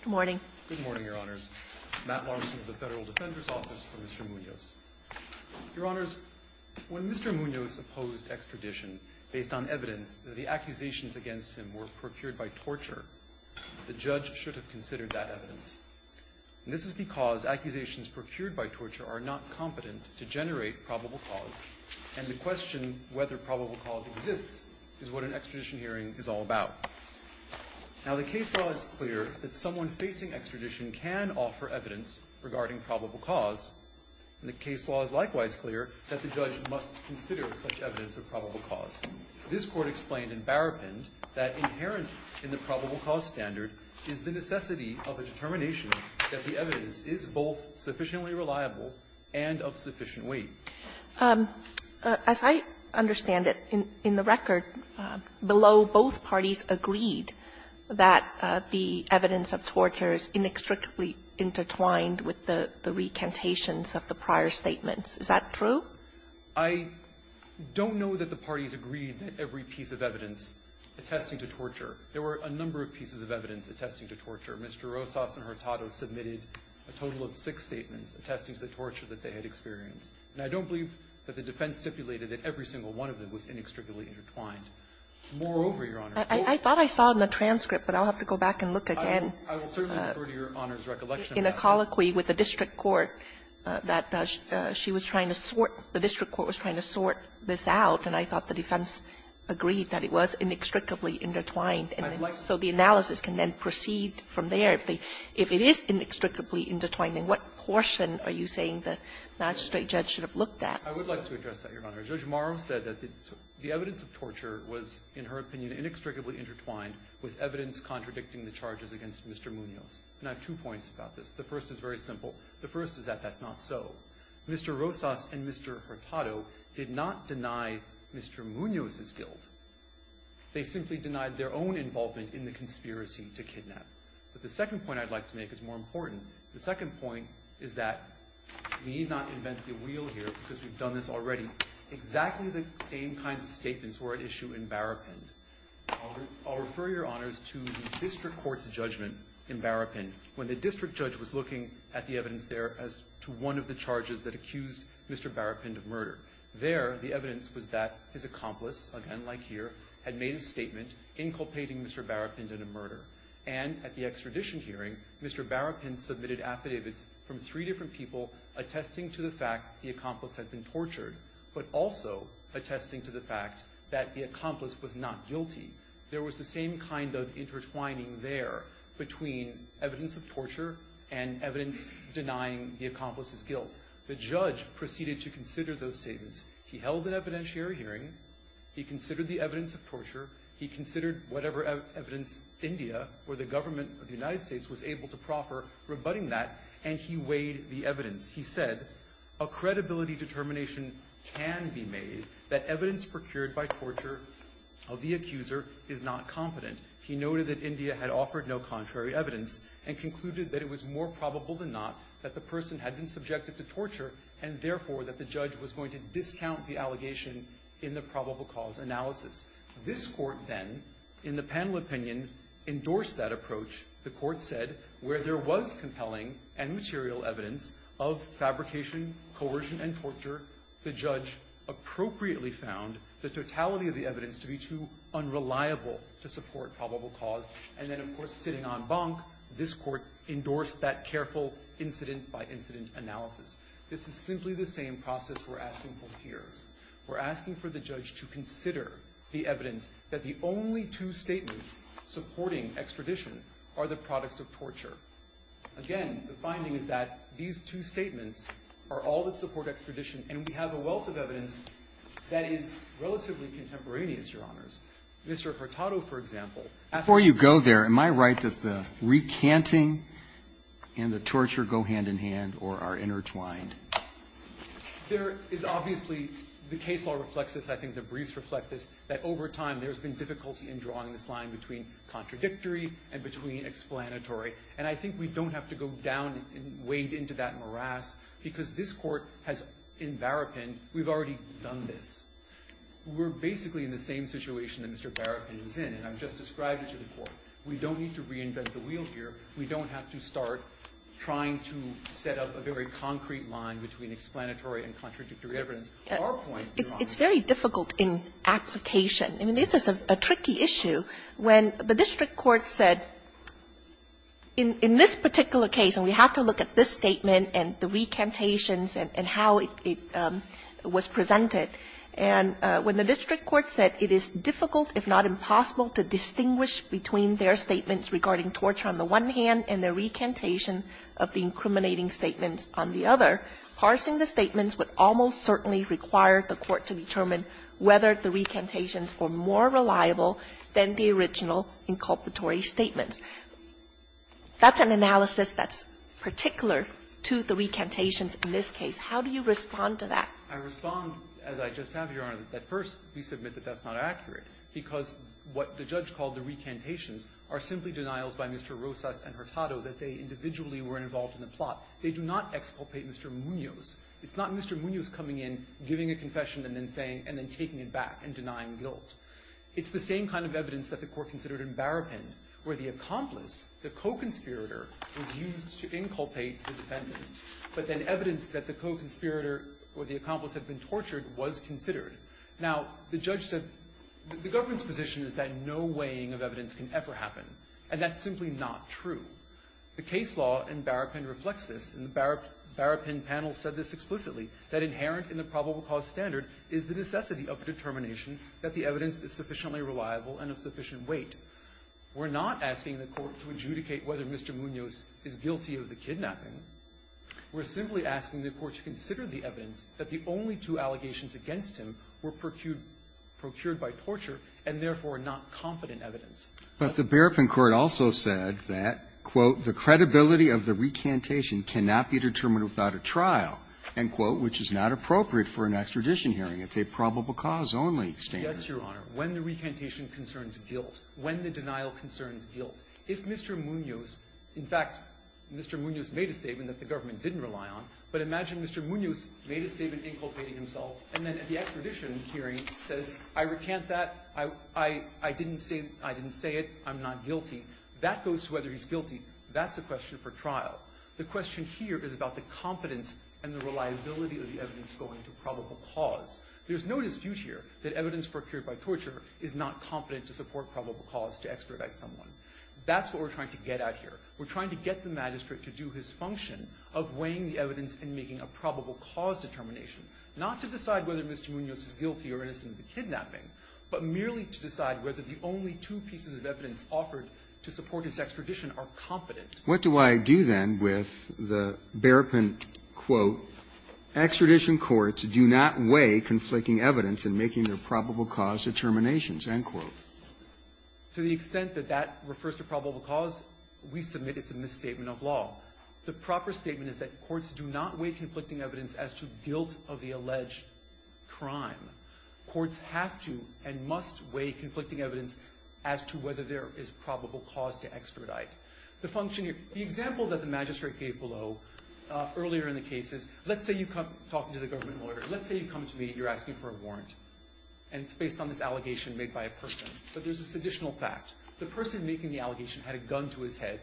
Good morning. Good morning, Your Honors. Matt Larson of the Federal Defender's Office for Mr. Munoz. Your Honors, when Mr. Munoz opposed extradition based on evidence that the accusations against him were procured by torture, the judge should have considered that evidence. This is because accusations procured by torture are not competent to generate probable cause, and the question whether probable cause exists is what an extradition hearing is all about. Now, the case law is clear that someone facing extradition can offer evidence regarding probable cause, and the case law is likewise clear that the judge must consider such evidence of probable cause. This Court explained in Barapin that inherent in the probable cause standard is the necessity of a determination that the evidence is both sufficiently reliable and of sufficient weight. As I understand it, in the record, below, both parties agreed that the evidence of torture is inextricably intertwined with the recantations of the prior statements. Is that true? I don't know that the parties agreed that every piece of evidence attesting to torture. There were a number of pieces of evidence attesting to torture. Mr. Rosas and Hurtado submitted a total of six statements attesting to the torture that they had experienced. And I don't believe that the defense stipulated that every single one of them was inextricably intertwined. Moreover, Your Honor ---- Kagan. I thought I saw it in the transcript, but I'll have to go back and look again. I will certainly refer to Your Honor's recollection of that. In a colloquy with the district court that she was trying to sort, the district court was trying to sort this out, and I thought the defense agreed that it was inextricably intertwined. So the analysis can then proceed from there. If it is inextricably intertwined, then what portion are you saying the magistrate judge should have looked at? I would like to address that, Your Honor. Judge Morrow said that the evidence of torture was, in her opinion, inextricably intertwined with evidence contradicting the charges against Mr. Munoz. And I have two points about this. The first is very simple. The first is that that's not so. Mr. Rosas and Mr. Hurtado did not deny Mr. Munoz's guilt. They simply denied their own involvement in the conspiracy to kidnap. But the second point I'd like to make is more important. The second point is that we need not invent the wheel here, because we've done this already. Exactly the same kinds of statements were at issue in Barrapin. I'll refer, Your Honors, to the district court's judgment in Barrapin, when the district judge was looking at the evidence there as to one of the charges that accused Mr. Barrapin of murder. There, the evidence was that his accomplice, again, like here, had made a statement inculpating Mr. Barrapin in a murder. And at the extradition hearing, Mr. Barrapin submitted affidavits from three different people attesting to the fact the accomplice had been tortured, but also attesting to the fact that the accomplice was not guilty. There was the same kind of intertwining there between evidence of torture and evidence denying the accomplice's guilt. The judge proceeded to consider those statements. He held an evidentiary hearing. He considered the evidence of torture. He considered whatever evidence India or the government of the United States was able to proffer, rebutting that, and he weighed the evidence. He said, a credibility determination can be made that evidence procured by torture of the accuser is not competent. He noted that India had offered no contrary evidence and concluded that it was more subjective to torture, and therefore that the judge was going to discount the allegation in the probable cause analysis. This Court then, in the panel opinion, endorsed that approach. The Court said where there was compelling and material evidence of fabrication, coercion, and torture, the judge appropriately found the totality of the evidence to be too unreliable to support probable cause. And then, of course, sitting on bunk, this Court endorsed that careful incident-by-incident analysis. This is simply the same process we're asking for here. We're asking for the judge to consider the evidence that the only two statements supporting extradition are the products of torture. Again, the finding is that these two statements are all that support extradition, and we have a wealth of evidence that is relatively contemporaneous, Your Honors. Mr. Hurtado, for example. Roberts. Before you go there, am I right that the recanting and the torture go hand in hand or are intertwined? There is obviously the case law reflects this. I think the briefs reflect this, that over time there's been difficulty in drawing this line between contradictory and between explanatory. And I think we don't have to go down and wade into that We're basically in the same situation that Mr. Barofsky is in, and I've just described it to the Court. We don't need to reinvent the wheel here. We don't have to start trying to set up a very concrete line between explanatory and contradictory evidence. Our point, Your Honor, is that we have to look at this statement and the recantations and how it was presented. And when the district court said, in this particular case, it is difficult if not impossible to distinguish between their statements regarding torture on the one hand and the recantation of the incriminating statements on the other, parsing the statements would almost certainly require the Court to determine whether the recantations were more reliable than the original inculpatory statements. That's an analysis that's particular to the recantations in this case. How do you respond to that? I respond, as I just have, Your Honor, that first we submit that that's not accurate, because what the judge called the recantations are simply denials by Mr. Rosas and Hurtado that they individually were involved in the plot. They do not exculpate Mr. Munoz. It's not Mr. Munoz coming in, giving a confession, and then saying and then taking it back and denying guilt. It's the same kind of evidence that the Court considered in Barapin, where the accomplice, the co-conspirator, was used to inculpate the defendant, but then evidence that the co-conspirator or the accomplice had been tortured was considered. Now, the judge said the government's position is that no weighing of evidence can ever happen, and that's simply not true. The case law in Barapin reflects this, and the Barapin panel said this explicitly, that inherent in the probable cause standard is the necessity of determination that the evidence is sufficiently reliable and of sufficient weight. We're not asking the Court to adjudicate whether Mr. Munoz is guilty of the kidnapping. We're simply asking the Court to consider the evidence that the only two allegations against him were procured by torture and, therefore, not competent evidence. But the Barapin court also said that, quote, the credibility of the recantation cannot be determined without a trial, end quote, which is not appropriate for an extradition hearing. It's a probable cause only standard. Yes, Your Honor. When the recantation concerns guilt, when the denial concerns guilt, if Mr. Munoz – in fact, Mr. Munoz made a statement that the government didn't rely on, but imagine Mr. Munoz made a statement inculpating himself, and then at the extradition hearing says, I recant that, I didn't say it, I'm not guilty, that goes to whether he's guilty. That's a question for trial. The question here is about the competence and the reliability of the evidence going to probable cause. There's no dispute here that evidence procured by torture is not competent to support probable cause to extradite someone. That's what we're trying to get out here. We're trying to get the magistrate to do his function of weighing the evidence and making a probable cause determination, not to decide whether Mr. Munoz is guilty or innocent of the kidnapping, but merely to decide whether the only two pieces of evidence offered to support his extradition are competent. What do I do, then, with the Barapin, quote, extradition courts do not weigh conflicting evidence in making their probable cause determinations, end quote? To the extent that that refers to probable cause, we submit it's a misstatement of law. The proper statement is that courts do not weigh conflicting evidence as to guilt of the alleged crime. Courts have to and must weigh conflicting evidence as to whether there is probable cause to extradite. The function here, the example that the magistrate gave below earlier in the case is, let's say you come, talking to the government lawyer, let's say you come to me, you're asking for a warrant, and it's based on this allegation made by a person, but there's this additional fact. The person making the allegation had a gun to his head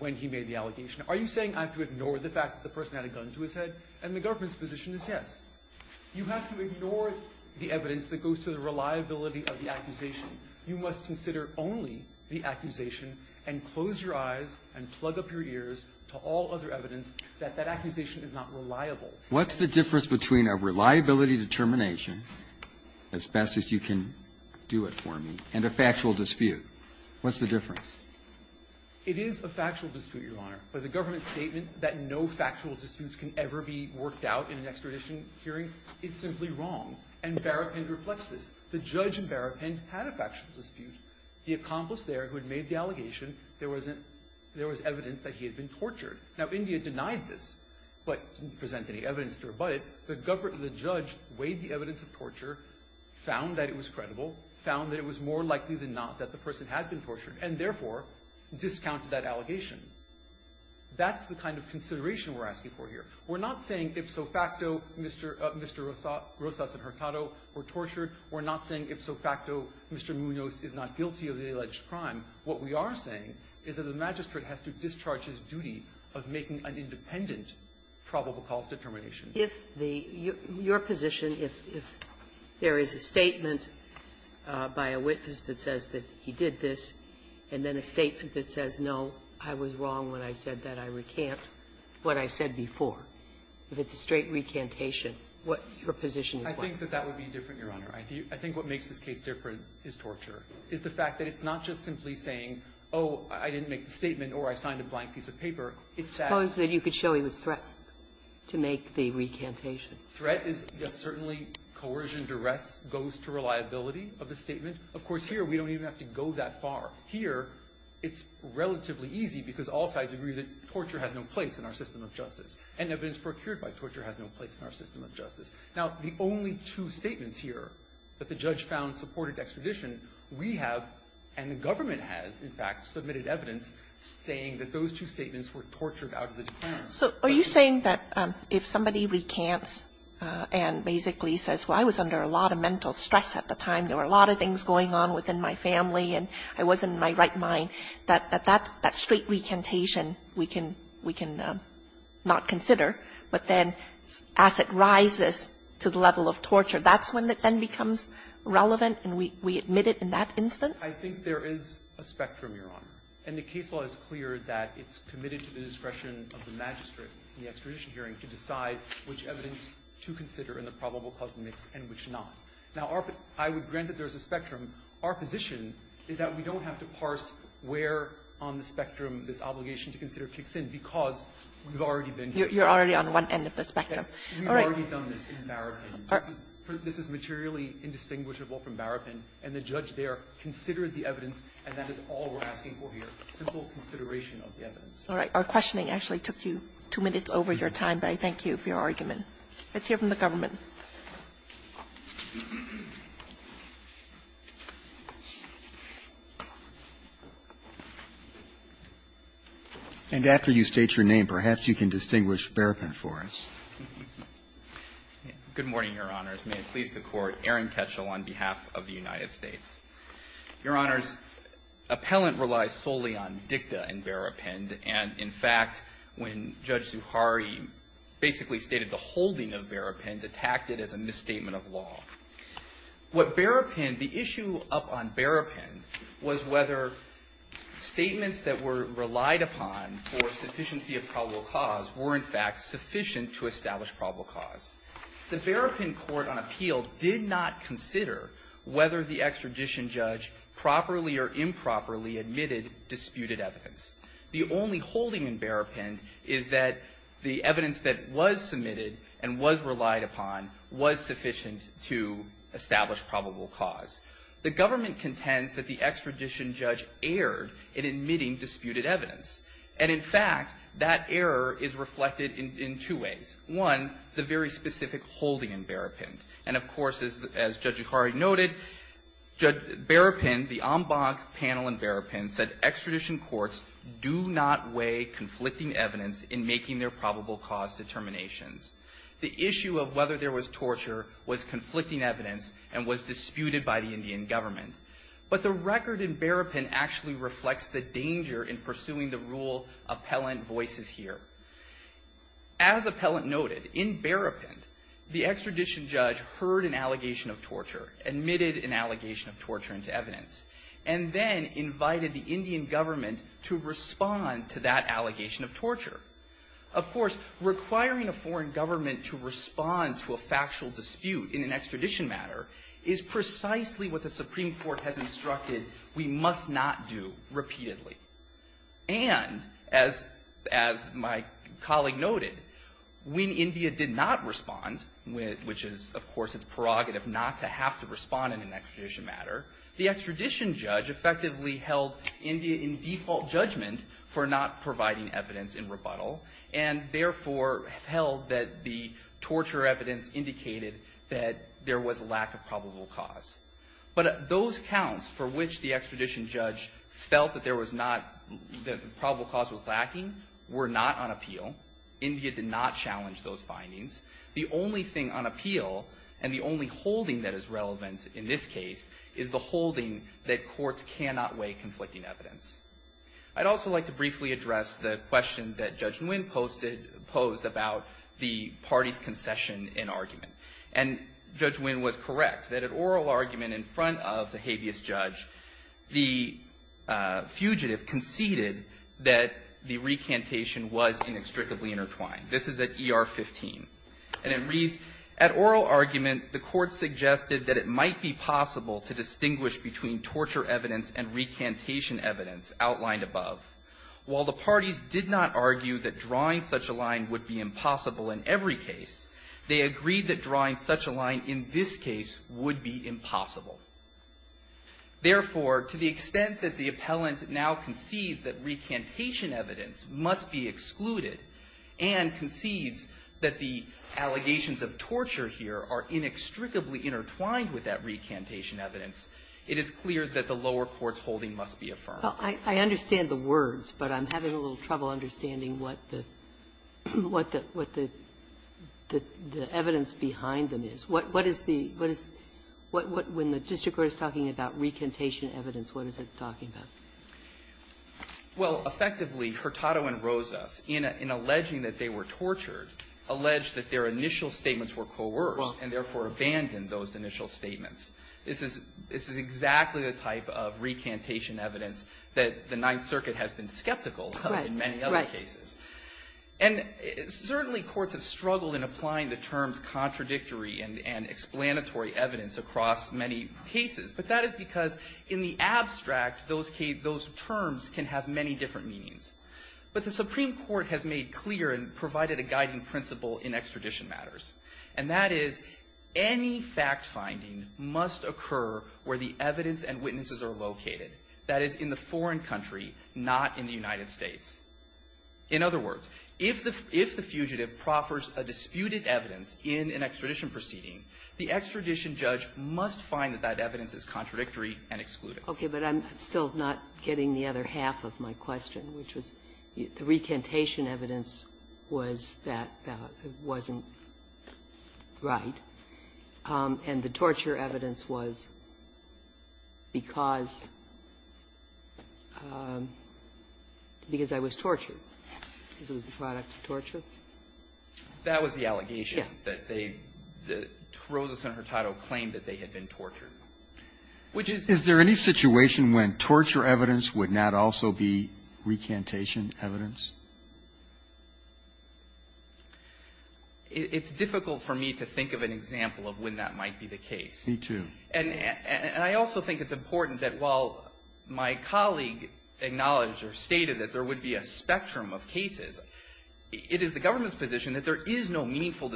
when he made the allegation. Are you saying I have to ignore the fact that the person had a gun to his head? And the government's position is yes. You have to ignore the evidence that goes to the reliability of the accusation. You must consider only the accusation and close your eyes and plug up your ears to all other evidence that that accusation is not reliable. What's the difference between a reliability determination, as best as you can do it for me, and a factual dispute? What's the difference? It is a factual dispute, Your Honor. But the government's statement that no factual disputes can ever be worked out in an extradition hearing is simply wrong. And Barapin reflects this. The judge in Barapin had a factual dispute. The accomplice there who had made the allegation, there wasn't – there was evidence that he had been tortured. Now, India denied this, but didn't present any evidence to rebut it. The judge weighed the evidence of torture, found that it was credible, found that it was more likely than not that the person had been tortured, and therefore discounted that allegation. That's the kind of consideration we're asking for here. We're not saying ipso facto Mr. Rosas and Hurtado were tortured. We're not saying ipso facto Mr. Munoz is not guilty of the alleged crime. What we are saying is that the magistrate has to discharge his duty of making an independent probable cause determination. If the – your position, if there is a statement by a witness that says that he did this, and then a statement that says, no, I was wrong when I said that I recant what I said before, if it's a straight recantation, what your position is? I think that that would be different, Your Honor. I think what makes this case different is torture, is the fact that it's not just simply saying, oh, I didn't make the statement or I signed a blank piece of paper. It's that – Suppose that you could show he was threatened to make the recantation. Threat is, yes, certainly coercion, duress goes to reliability of the statement. Of course, here we don't even have to go that far. Here, it's relatively easy because all sides agree that torture has no place in our system of justice, and evidence procured by torture has no place in our system of justice. Now, the only two statements here that the judge found supported extradition we have, and the government has, in fact, submitted evidence saying that those two statements were tortured out of the defense. So are you saying that if somebody recants and basically says, well, I was under a lot of mental stress at the time, there were a lot of things going on within my family, and I wasn't in my right mind, that that straight recantation we can not consider, but then as it rises to the level of torture, that's when it then becomes relevant and we admit it in that instance? I think there is a spectrum, Your Honor. And the case law is clear that it's committed to the discretion of the magistrate in the extradition hearing to decide which evidence to consider in the probable cause mix and which not. Now, I would grant that there is a spectrum. Our position is that we don't have to parse where on the spectrum this obligation to consider kicks in because we've already been here. You're already on one end of the spectrum. All right. We've already done this in Barrapin. This is materially indistinguishable from Barrapin. And the judge there considered the evidence, and that is all we're asking for here, simple consideration of the evidence. All right. Our questioning actually took you two minutes over your time, but I thank you for your argument. Let's hear from the government. And after you state your name, perhaps you can distinguish Barrapin for us. Good morning, Your Honors. May it please the Court. Aaron Ketchel on behalf of the United States. Your Honors, appellant relies solely on dicta in Barrapin, and, in fact, when Judge Barrapin, the issue up on Barrapin was whether statements that were relied upon for sufficiency of probable cause were, in fact, sufficient to establish probable cause. The Barrapin Court on Appeal did not consider whether the extradition judge properly or improperly admitted disputed evidence. The only holding in Barrapin is that the evidence that was submitted and was relied upon was sufficient to establish probable cause. The government contends that the extradition judge erred in admitting disputed evidence. And, in fact, that error is reflected in two ways. One, the very specific holding in Barrapin. And, of course, as Judge Yukari noted, Barrapin, the en banc panel in Barrapin said extradition courts do not weigh conflicting evidence in making their probable cause determinations. The issue of whether there was torture was conflicting evidence and was disputed by the Indian government. But the record in Barrapin actually reflects the danger in pursuing the rule appellant voices here. As appellant noted, in Barrapin, the extradition judge heard an allegation of torture, admitted an allegation of torture into evidence, and then invited the Indian government to respond to that allegation of torture. Of course, requiring a foreign government to respond to a factual dispute in an extradition matter is precisely what the Supreme Court has instructed we must not do repeatedly. And, as my colleague noted, when India did not respond, which is, of course, its prerogative not to have to respond in an extradition matter, the extradition judge effectively held India in default judgment for not providing evidence in rebuttal and, therefore, held that the torture evidence indicated that there was a lack of probable cause. But those counts for which the extradition judge felt that there was not the probable cause was lacking were not on appeal. India did not challenge those findings. The only thing on appeal and the only holding that is relevant in this case is the fact that the courts cannot weigh conflicting evidence. I'd also like to briefly address the question that Judge Nguyen posted – posed about the party's concession in argument. And Judge Nguyen was correct that at oral argument in front of the habeas judge, the fugitive conceded that the recantation was inextricably intertwined. This is at ER 15. And it reads, at oral argument, the court suggested that it might be possible to distinguish between torture evidence and recantation evidence outlined above. While the parties did not argue that drawing such a line would be impossible in every case, they agreed that drawing such a line in this case would be impossible. Therefore, to the extent that the appellant now concedes that recantation evidence must be excluded and concedes that the allegations of torture here are inextricably intertwined with that recantation evidence, it is clear that the lower court's holding must be affirmed. Kagan. I understand the words, but I'm having a little trouble understanding what the – what the – what the evidence behind them is. What is the – what is – when the district court is talking about recantation evidence, what is it talking about? Well, effectively, Hurtado and Rosas, in alleging that they were tortured, allege that their initial statements were coerced and, therefore, abandoned those initial statements. This is – this is exactly the type of recantation evidence that the Ninth Circuit has been skeptical of in many other cases. And certainly, courts have struggled in applying the terms contradictory and explanatory evidence across many cases, but that is because in the abstract, those terms can have many different meanings. But the Supreme Court has made clear and provided a guiding principle in extradition matters, and that is any fact-finding must occur where the evidence and witnesses are located, that is, in the foreign country, not in the United States. In other words, if the – if the fugitive proffers a disputed evidence in an extradition proceeding, the extradition judge must find that that evidence is contradictory and exclude it. Okay. But I'm still not getting the other half of my question, which was the recantation evidence was that it wasn't right, and the torture evidence was because – because I was tortured, because it was the product of torture. That was the allegation that they – that Rosas and Hurtado claimed that they had been tortured. Which is – Is there any situation when torture evidence would not also be recantation evidence? It's difficult for me to think of an example of when that might be the case. Me, too. And I also think it's important that while my colleague acknowledged or stated that there would be a spectrum of cases, it is the government's position that there would be a spectrum of cases in which the government would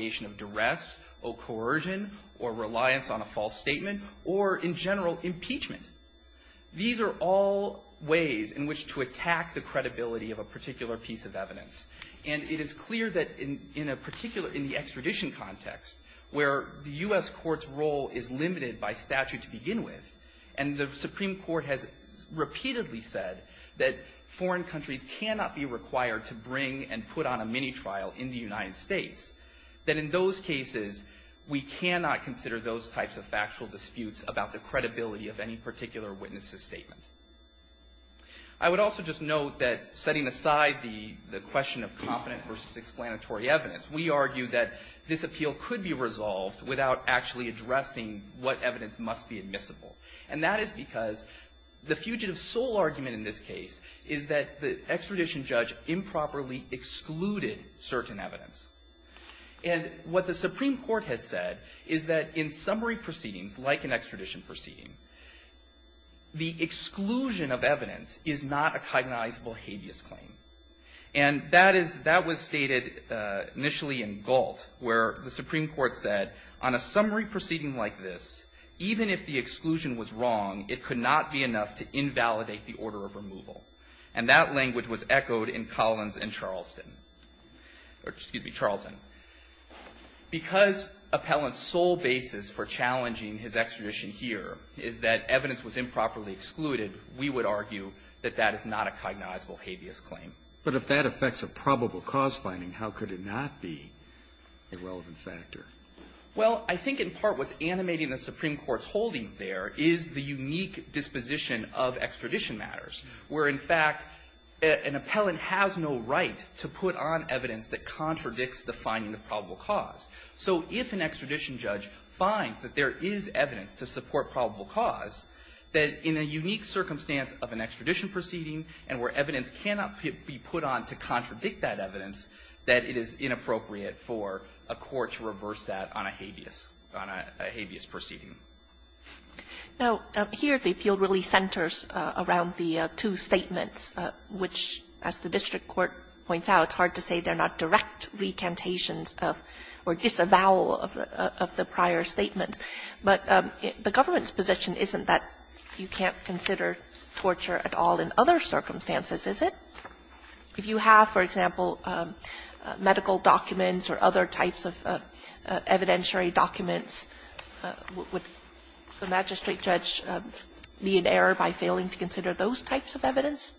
either say, oh, duress, oh, coercion, or reliance on a false statement, or, in general, impeachment. These are all ways in which to attack the credibility of a particular piece of evidence. And it is clear that in a particular – in the extradition context, where the U.S. Court's role is limited by statute to begin with, and the Supreme Court's role to begin with, in those cases, we cannot consider those types of factual disputes about the credibility of any particular witness's statement. I would also just note that, setting aside the question of competent versus explanatory evidence, we argue that this appeal could be resolved without actually addressing what evidence must be admissible. And that is because the fugitive's sole argument in this case is that the extradition judge improperly excluded certain evidence. And what the Supreme Court has said is that in summary proceedings, like an extradition proceeding, the exclusion of evidence is not a cognizable habeas claim. And that is – that was stated initially in Galt, where the Supreme Court said, on a summary proceeding like this, even if the exclusion was wrong, it could not be enough to cause a matter of removal. And that language was echoed in Collins and Charleston – or, excuse me, Charleston. Because appellant's sole basis for challenging his extradition here is that evidence was improperly excluded, we would argue that that is not a cognizable habeas claim. But if that affects a probable cause finding, how could it not be a relevant factor? Well, I think in part what's animating the Supreme Court's holdings there is the case where, in fact, an appellant has no right to put on evidence that contradicts the finding of probable cause. So if an extradition judge finds that there is evidence to support probable cause, that in a unique circumstance of an extradition proceeding and where evidence cannot be put on to contradict that evidence, that it is inappropriate for a court to reverse that on a habeas – on a habeas proceeding. Now, here the appeal really centers around the two statements, which, as the district court points out, it's hard to say they're not direct recantations of or disavowal of the prior statements. But the government's position isn't that you can't consider torture at all in other circumstances, is it? If you have, for example, medical documents or other types of evidentiary documents, would the magistrate judge be in error by failing to consider those types of evidence?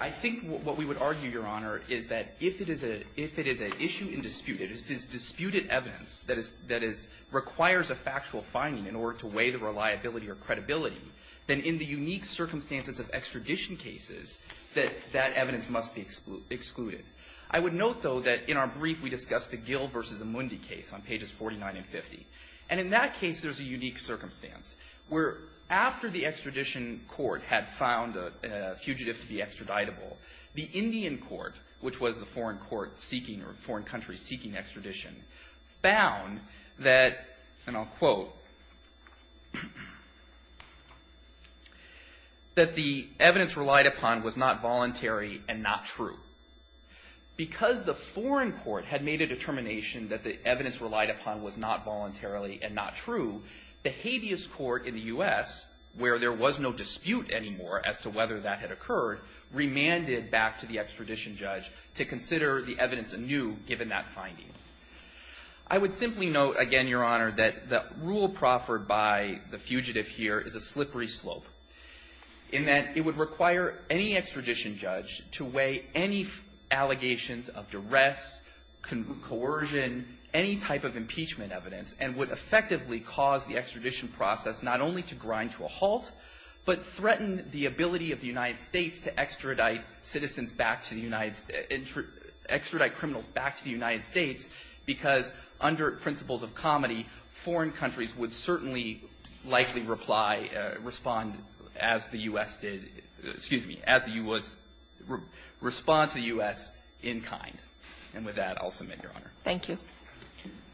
I think what we would argue, Your Honor, is that if it is a – if it is an issue in dispute, if it is disputed evidence that is – that is – requires a factual finding in order to weigh the reliability or credibility, then in the unique circumstance where, after the extradition court had found a fugitive to be extraditable, the Indian court, which was the foreign court seeking or foreign country seeking extradition, found that – and I'll quote – that the evidence relied upon was not voluntary and not true. Because the foreign court found that the extradition court had made a determination that the evidence relied upon was not voluntarily and not true, the habeas court in the U.S., where there was no dispute anymore as to whether that had occurred, remanded back to the extradition judge to consider the evidence anew given that finding. I would simply note, again, Your Honor, that the rule proffered by the fugitive here is a slippery slope in that it would require any extradition judge to weigh any allegations of duress, coercion, any type of impeachment evidence, and would effectively cause the extradition process not only to grind to a halt, but threaten the ability of the United States to extradite citizens back to the United – extradite criminals back to the United States, because under principles of comedy, foreign countries would certainly likely reply, respond as the U.S. did – excuse me, as the U.S. – respond to the U.S. in kind. And with that, I'll submit, Your Honor. Thank you.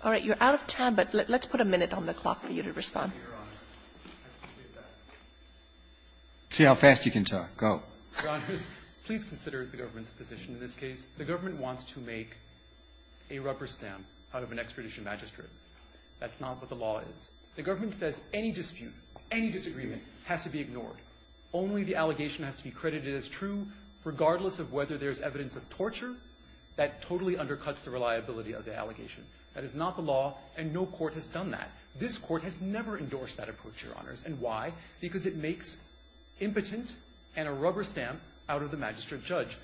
All right. You're out of time, but let's put a minute on the clock for you to respond. See how fast you can talk. Go. Your Honors, please consider the government's position in this case. The government wants to make a rubber stamp out of an extradition magistrate. That's not what the law is. The government says any dispute, any disagreement has to be ignored. Only the allegation has to be credited as true, regardless of whether there's evidence of torture. That totally undercuts the reliability of the allegation. That is not the law, and no court has done that. This court has never endorsed that approach, Your Honors. And why? Because it makes impotent and a rubber stamp out of the magistrate judge.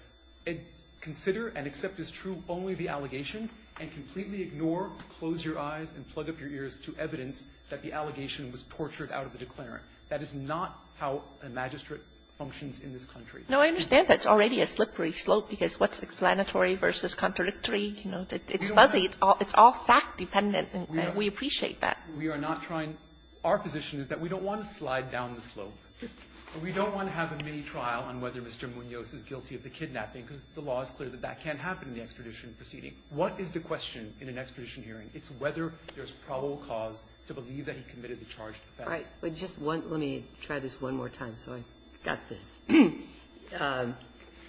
Consider and accept as true only the allegation and completely ignore, close your eyes, and plug up your ears to evidence that the allegation was tortured out of the declarant. That is not how a magistrate functions in this country. No, I understand that's already a slippery slope, because what's explanatory versus contradictory? You know, it's fuzzy. It's all fact-dependent, and we appreciate that. We are not trying – our position is that we don't want to slide down the slope. But we don't want to have a mini-trial on whether Mr. Munoz is guilty of the kidnapping, because the law is clear that that can't happen in the extradition proceeding. What is the question in an extradition hearing? It's whether there's probable cause to believe that he committed the charged offense. Right. But just one – let me try this one more time so I got this.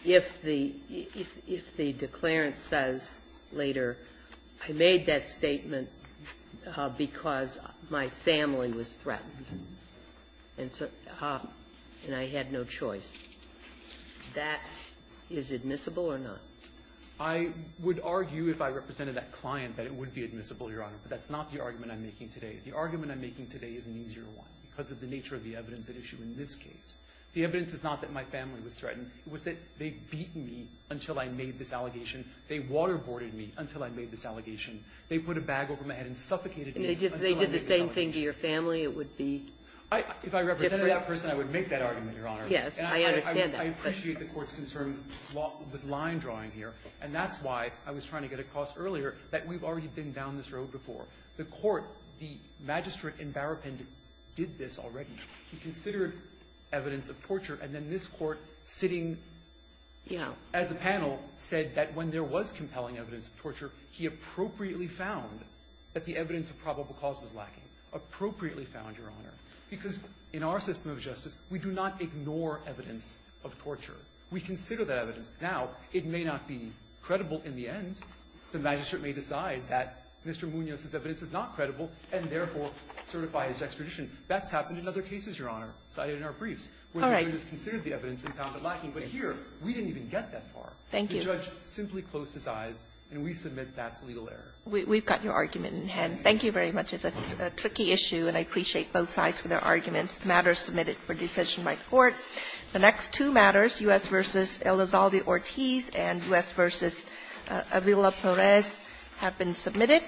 If the – if the declarant says later, I made that statement because my family was threatened and I had no choice, that is admissible or not? I would argue if I represented that client that it would be admissible, Your Honor. But that's not the argument I'm making today. The argument I'm making today is an easier one because of the nature of the evidence at issue in this case. The evidence is not that my family was threatened. It was that they beat me until I made this allegation. They waterboarded me until I made this allegation. They did the same thing to your family. It would be different. If I represented that person, I would make that argument, Your Honor. Yes. I understand that. I appreciate the Court's concern with line drawing here, and that's why I was trying to get across earlier that we've already been down this road before. The Court, the magistrate and barrappin did this already. He considered evidence of torture, and then this Court, sitting as a panel, said that when there was compelling evidence of torture, he appropriately found that the evidence of probable cause was lacking. Appropriately found, Your Honor, because in our system of justice, we do not ignore evidence of torture. We consider that evidence. Now, it may not be credible in the end. The magistrate may decide that Mr. Munoz's evidence is not credible and, therefore, certify his extradition. That's happened in other cases, Your Honor, cited in our briefs, where the judge considered the evidence and found it lacking. But here, we didn't even get that far. The judge simply closed his eyes, and we submit that's legal error. We've got your argument in hand. Thank you very much. It's a tricky issue, and I appreciate both sides for their arguments. The matter is submitted for decision by court. The next two matters, U.S. v. Elizalde-Ortiz and U.S. v. Avila-Perez, have been submitted.